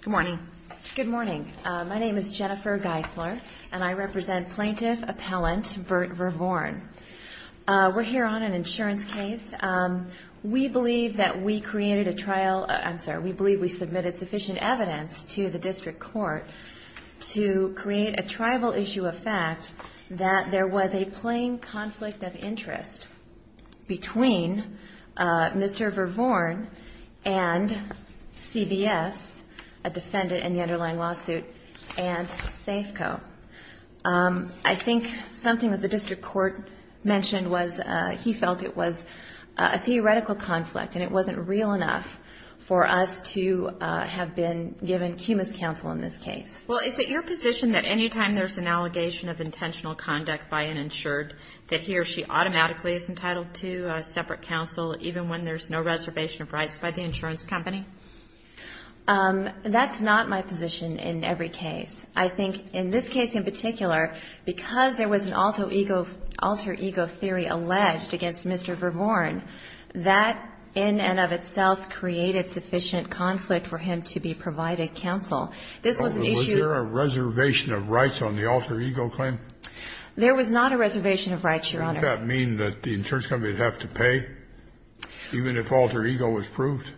Good morning. My name is Jennifer Geisler, and I represent Plaintiff Appellant Burt Vervoorn. We're here on an insurance case. We believe that we created a trial, I'm sorry, we believe we submitted sufficient evidence to the district court to create a tribal issue of fact that there was a plain conflict of interest between Mr. Vervoorn and CBS, a defendant in the underlying lawsuit, and Safeco. I think something that the district court mentioned was he felt it was a theoretical conflict, and it wasn't real enough for us to have been given cumulus counsel in this case. Well, is it your position that anytime there's an allegation of intentional conduct by an insured, that he or she automatically is entitled to separate counsel, even when there's no reservation of rights by the insurance company? That's not my position in every case. I think in this case in particular, because there was an alter ego theory alleged against Mr. Vervoorn, that in and of itself created sufficient conflict for him to be provided counsel. Was there a reservation of rights on the alter ego claim? There was not a reservation of rights, Your Honor. Does that mean that the insurance company would have to pay, even if alter ego was proved?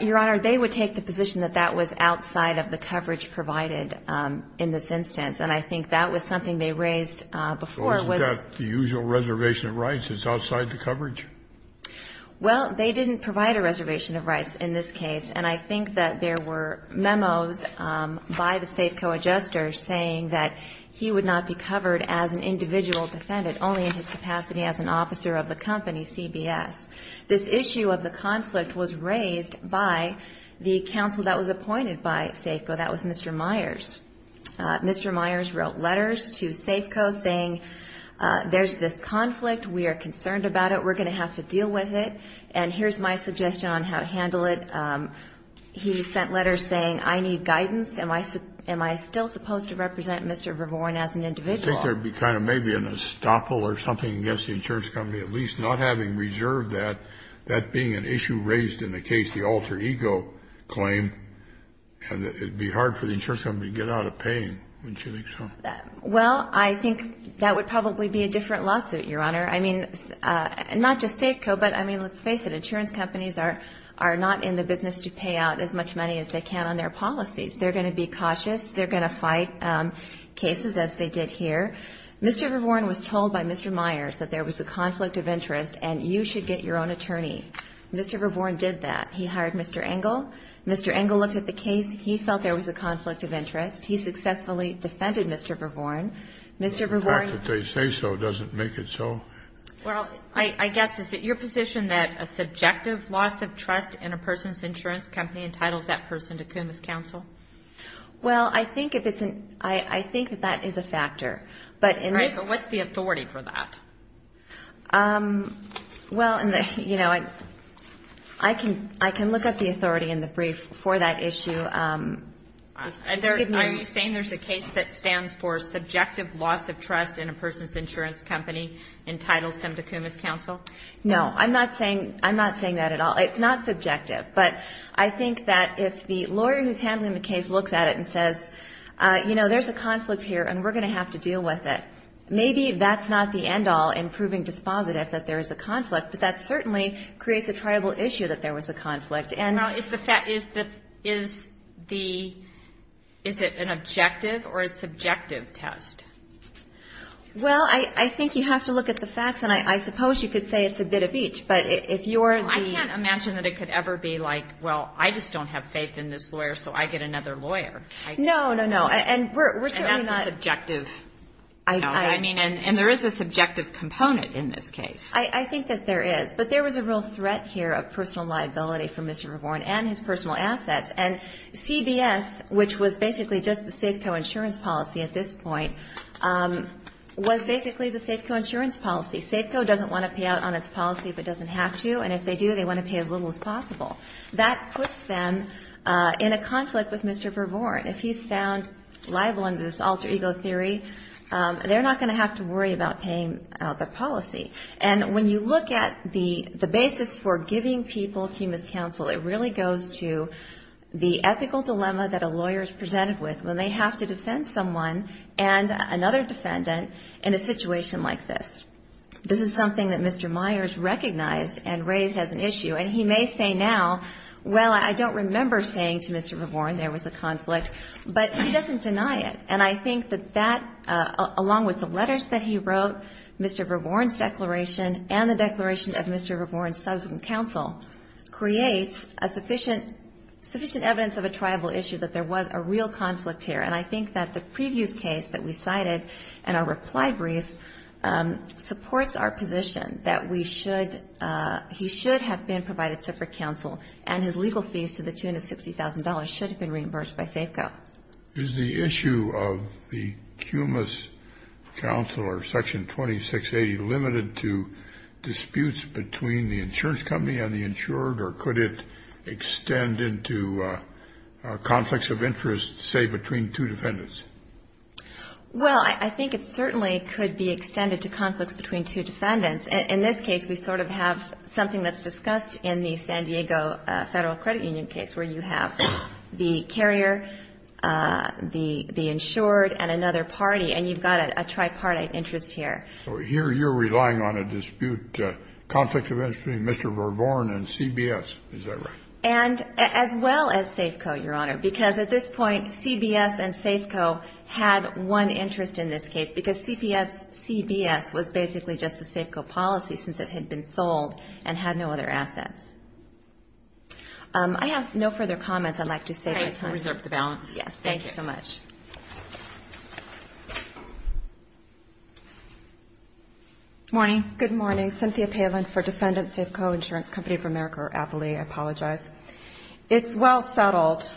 Your Honor, they would take the position that that was outside of the coverage provided in this instance, and I think that was something they raised before. So isn't that the usual reservation of rights is outside the coverage? Well, they didn't provide a reservation of rights in this case, and I think that there were memos by the Safeco adjusters saying that he would not be covered as an individual defendant, only in his capacity as an officer of the company, CBS. This issue of the conflict was raised by the counsel that was appointed by Safeco. That was Mr. Myers. Mr. Myers wrote letters to Safeco saying, there's this conflict, we are concerned about it, we're going to have to deal with it, and here's my suggestion on how to handle it. He sent letters saying, I need guidance, am I still supposed to represent Mr. Vervoren as an individual? I think there'd be kind of maybe an estoppel or something against the insurance company at least, not having reserved that, that being an issue raised in the case, the alter ego claim, and it would be hard for the insurance company to get out of paying, wouldn't you think so? Well, I think that would probably be a different lawsuit, Your Honor. I mean, not just Safeco, but, I mean, let's face it, insurance companies are not in the business to pay out as much money as they can on their policies. They're going to be cautious, they're going to fight cases as they did here. Mr. Vervoren was told by Mr. Myers that there was a conflict of interest and you should get your own attorney. Mr. Vervoren did that. He hired Mr. Engel. Mr. Engel looked at the case. He felt there was a conflict of interest. He successfully defended Mr. Vervoren. Mr. Vervoren ---- The fact that they say so doesn't make it so. Well, I guess, is it your position that a subjective loss of trust in a person's insurance company entitles that person to CUMAS counsel? Well, I think if it's an, I think that that is a factor, but in this ---- All right, but what's the authority for that? Well, in the, you know, I can look up the authority in the brief for that issue. Are you saying there's a case that stands for subjective loss of trust in a person's insurance company entitles them to CUMAS counsel? No, I'm not saying that at all. It's not subjective, but I think that if the lawyer who's handling the case looks at it and says, you know, there's a conflict here and we're going to have to deal with it, maybe that's not the end all in proving dispositive that there is a conflict, but that certainly creates a triable issue that there was a conflict. Now, is the fact, is the, is it an objective or a subjective test? Well, I think you have to look at the facts, and I suppose you could say it's a bit of each, but if you're the ---- I can't imagine that it could ever be like, well, I just don't have faith in this lawyer, so I get another lawyer. No, no, no, and we're certainly not ---- And that's a subjective, you know, I mean, and there is a subjective component in this case. I think that there is, but there was a real threat here of personal liability for Mr. Verborn and his personal assets, and CBS, which was basically just the Safeco insurance policy at this point, was basically the Safeco insurance policy. Safeco doesn't want to pay out on its policy if it doesn't have to, and if they do, they want to pay as little as possible. That puts them in a conflict with Mr. Verborn. If he's found liable under this alter ego theory, they're not going to have to worry about paying out their policy. And when you look at the basis for giving people cumulus counsel, it really goes to the ethical dilemma that a lawyer is presented with when they have to defend someone and another defendant in a situation like this. This is something that Mr. Myers recognized and raised as an issue, and he may say now, well, I don't remember saying to Mr. Verborn there was a conflict, but he doesn't deny it. And I think that that, along with the letters that he wrote, Mr. Verborn's declaration, and the declaration of Mr. Verborn's subsequent counsel, creates a sufficient evidence of a tribal issue that there was a real conflict here. And I think that the previous case that we cited in our reply brief supports our position that we should, he should have been provided separate counsel, and his legal fees to the tune of $60,000 should have been reimbursed by Safeco. Is the issue of the cumulus counsel or Section 2680 limited to disputes between the insurance company and the insured, or could it extend into conflicts of interest, say, between two defendants? Well, I think it certainly could be extended to conflicts between two defendants. In this case, we sort of have something that's discussed in the San Diego Federal Credit Union case, where you have the carrier, the insured, and another party, and you've got a tripartite interest here. So here you're relying on a dispute, conflicts of interest between Mr. Verborn and CBS, is that right? And as well as Safeco, Your Honor, because at this point, CBS and Safeco had one interest in this case, because CBS was basically just a Safeco policy since it had been sold and had no other assets. I have no further comments. I'd like to save my time. All right. We'll reserve the balance. Yes. Thank you. Thank you so much. Good morning. Good morning. Cynthia Palin for Defendant Safeco Insurance Company of America, or APALE, I apologize. It's well-settled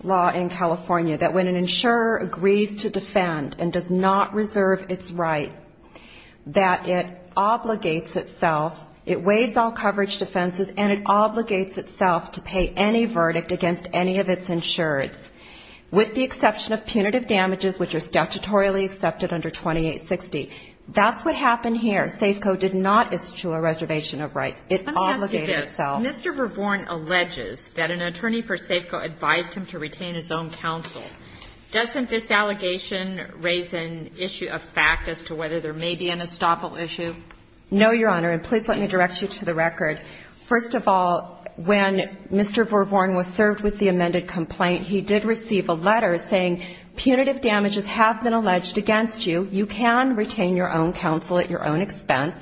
law in California that when an insurer agrees to defend and does not reserve its right, that it obligates itself, it waives all coverage defenses, and it obligates itself to pay any verdict against any of its insureds, with the exception of punitive damages, which are statutorily accepted under 2860. That's what happened here. Safeco did not issue a reservation of rights. It obligated itself. Let me ask you this. Mr. Verborn alleges that an attorney for Safeco advised him to retain his own counsel. Doesn't this allegation raise an issue of fact as to whether there may be an estoppel issue? No, Your Honor. And please let me direct you to the record. First of all, when Mr. Verborn was served with the amended complaint, he did receive a letter saying, punitive damages have been alleged against you, you can retain your own counsel at your own expense,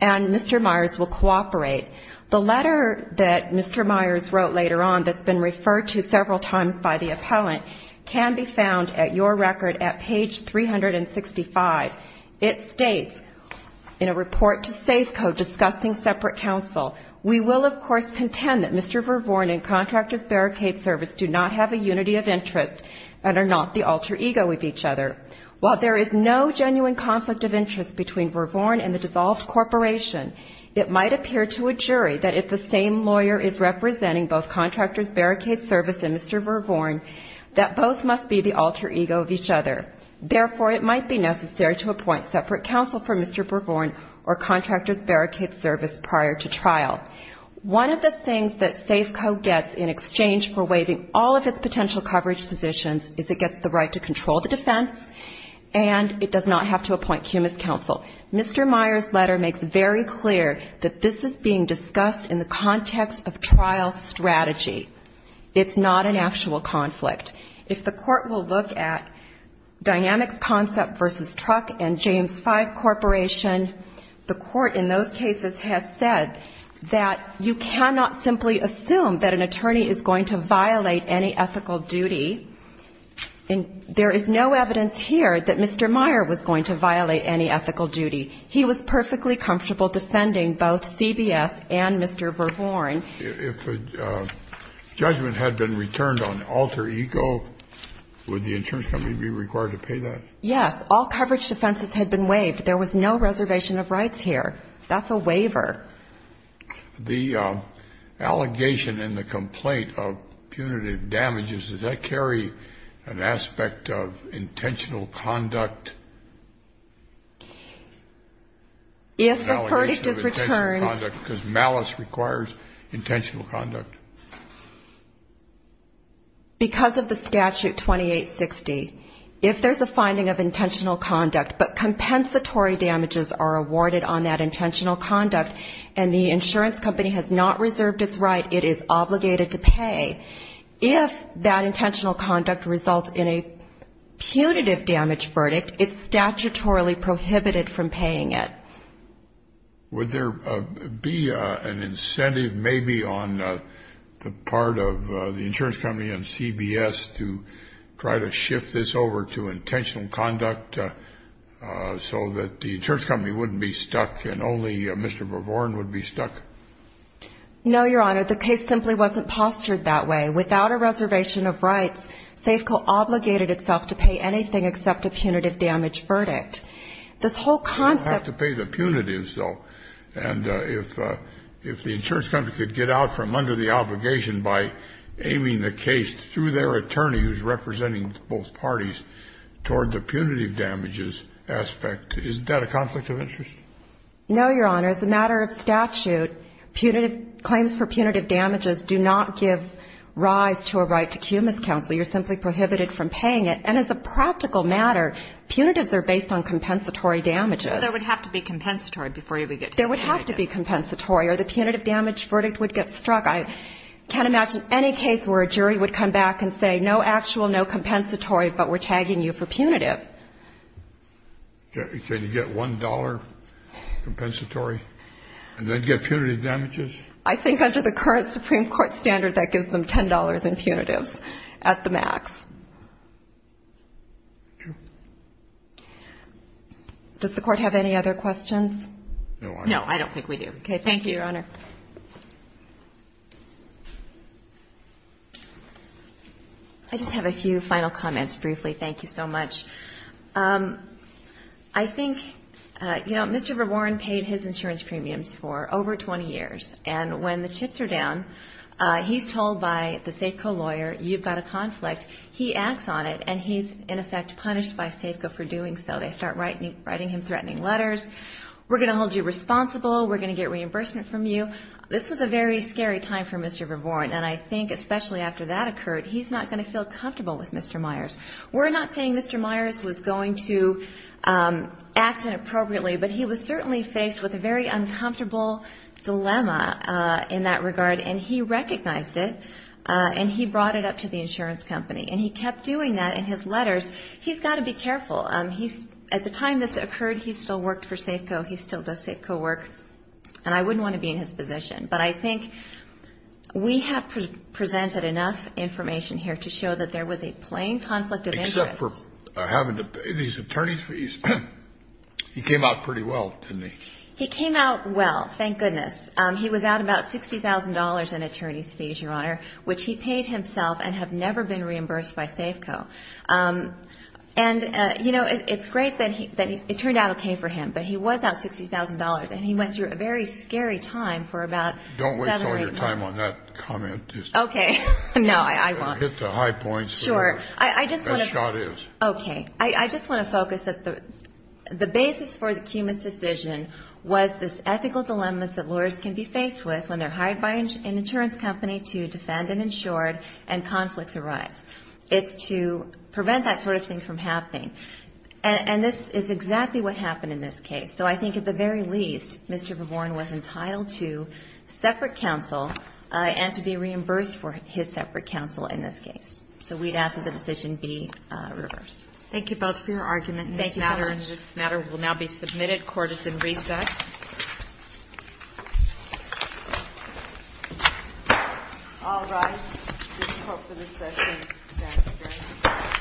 and Mr. Myers will cooperate. The letter that Mr. Myers wrote later on, that's been referred to several times by the appellant, can be found at your record at page 365. It states, in a report to Safeco discussing separate counsel, we will, of course, contend that Mr. Verborn and Contractors Barricade Service do not have a unity of interest and are not the alter ego of each other. While there is no genuine conflict of interest between Verborn and the dissolved corporation, it might appear to a jury that if the same lawyer is representing both Contractors Barricade Service and Mr. Verborn, that both must be the alter ego of each other. Therefore, it might be necessary to appoint separate counsel for Mr. Verborn or Contractors Barricade Service prior to trial. One of the things that Safeco gets in exchange for waiving all of its potential coverage positions is it gets the right to control the defense, and it does not have to appoint cumus counsel. Mr. Myers' letter makes very clear that this is being discussed in the context of trial strategy. It's not an actual conflict. If the court will look at Dynamics Concept v. Truck and James Five Corporation, the court in those cases has said that you cannot simply assume that an attorney is going to violate any ethical duty. And there is no evidence here that Mr. Myers was going to violate any ethical duty. He was perfectly comfortable defending both CBS and Mr. Verborn. If a judgment had been returned on alter ego, would the insurance company be required to pay that? Yes. All coverage defenses had been waived. There was no reservation of rights here. That's a waiver. The allegation in the complaint of punitive damages, does that carry an aspect of intentional conduct? If the verdict is returned. Because malice requires intentional conduct. Because of the statute 2860, if there's a finding of intentional conduct, but compensatory damages are awarded on that intentional conduct and the insurance company has not reserved its right, it is obligated to pay. If that intentional conduct results in a punitive damage verdict, it's statutorily prohibited from paying it. Would there be an incentive maybe on the part of the insurance company and CBS to try to shift this over to intentional conduct? So that the insurance company wouldn't be stuck and only Mr. Verborn would be stuck? No, Your Honor. The case simply wasn't postured that way. Without a reservation of rights, SAFECO obligated itself to pay anything except a punitive damage verdict. This whole concept. You have to pay the punitives, though. And if the insurance company could get out from under the obligation by aiming the case through their attorney, who's representing both parties, toward the punitive damages aspect, isn't that a conflict of interest? No, Your Honor. As a matter of statute, punitive claims for punitive damages do not give rise to a right to cumulus counsel. You're simply prohibited from paying it. And as a practical matter, punitives are based on compensatory damages. There would have to be compensatory before you would get to punitive. There would have to be compensatory or the punitive damage verdict would get struck. I can't imagine any case where a jury would come back and say, no actual, no compensatory, but we're tagging you for punitive. Can you get $1 compensatory and then get punitive damages? I think under the current Supreme Court standard, that gives them $10 in punitives at the max. Does the Court have any other questions? No, I don't. No, I don't think we do. Okay. Thank you, Your Honor. I just have a few final comments briefly. Thank you so much. I think, you know, Mr. Verborn paid his insurance premiums for over 20 years. And when the chips are down, he's told by the Safeco lawyer, you've got a conflict. He acts on it, and he's, in effect, punished by Safeco for doing so. They start writing him threatening letters. We're going to hold you responsible. We're going to get reimbursement from you. This was a very scary time for Mr. Verborn. And I think especially after that occurred, he's not going to feel comfortable with Mr. Myers. We're not saying Mr. Myers was going to act inappropriately, but he was certainly faced with a very uncomfortable dilemma in that regard. And he recognized it, and he brought it up to the insurance company. And he kept doing that in his letters. He's got to be careful. At the time this occurred, he still worked for Safeco. He still does Safeco work. And I wouldn't want to be in his position. But I think we have presented enough information here to show that there was a plain conflict of interest. Except for having to pay these attorney's fees. He came out pretty well, didn't he? He came out well. Thank goodness. He was out about $60,000 in attorney's fees, Your Honor, which he paid himself and have never been reimbursed by Safeco. And, you know, it's great that it turned out okay for him. But he was out $60,000, and he went through a very scary time for about seven or eight months. Don't waste all your time on that comment. Okay. No, I won't. Hit the high points. Sure. As Scott is. Okay. I just want to focus that the basis for the Cumas decision was this ethical dilemma that lawyers can be faced with when they're hired by an insurance company to defend an insured and conflicts arise. It's to prevent that sort of thing from happening. And this is exactly what happened in this case. So I think at the very least, Mr. Verborn was entitled to separate counsel and to be reimbursed for his separate counsel in this case. So we'd ask that the decision be reversed. Thank you both for your argument. Thank you so much. This matter will now be submitted. Court is in recess. All right. This is all for this session. Thank you very much.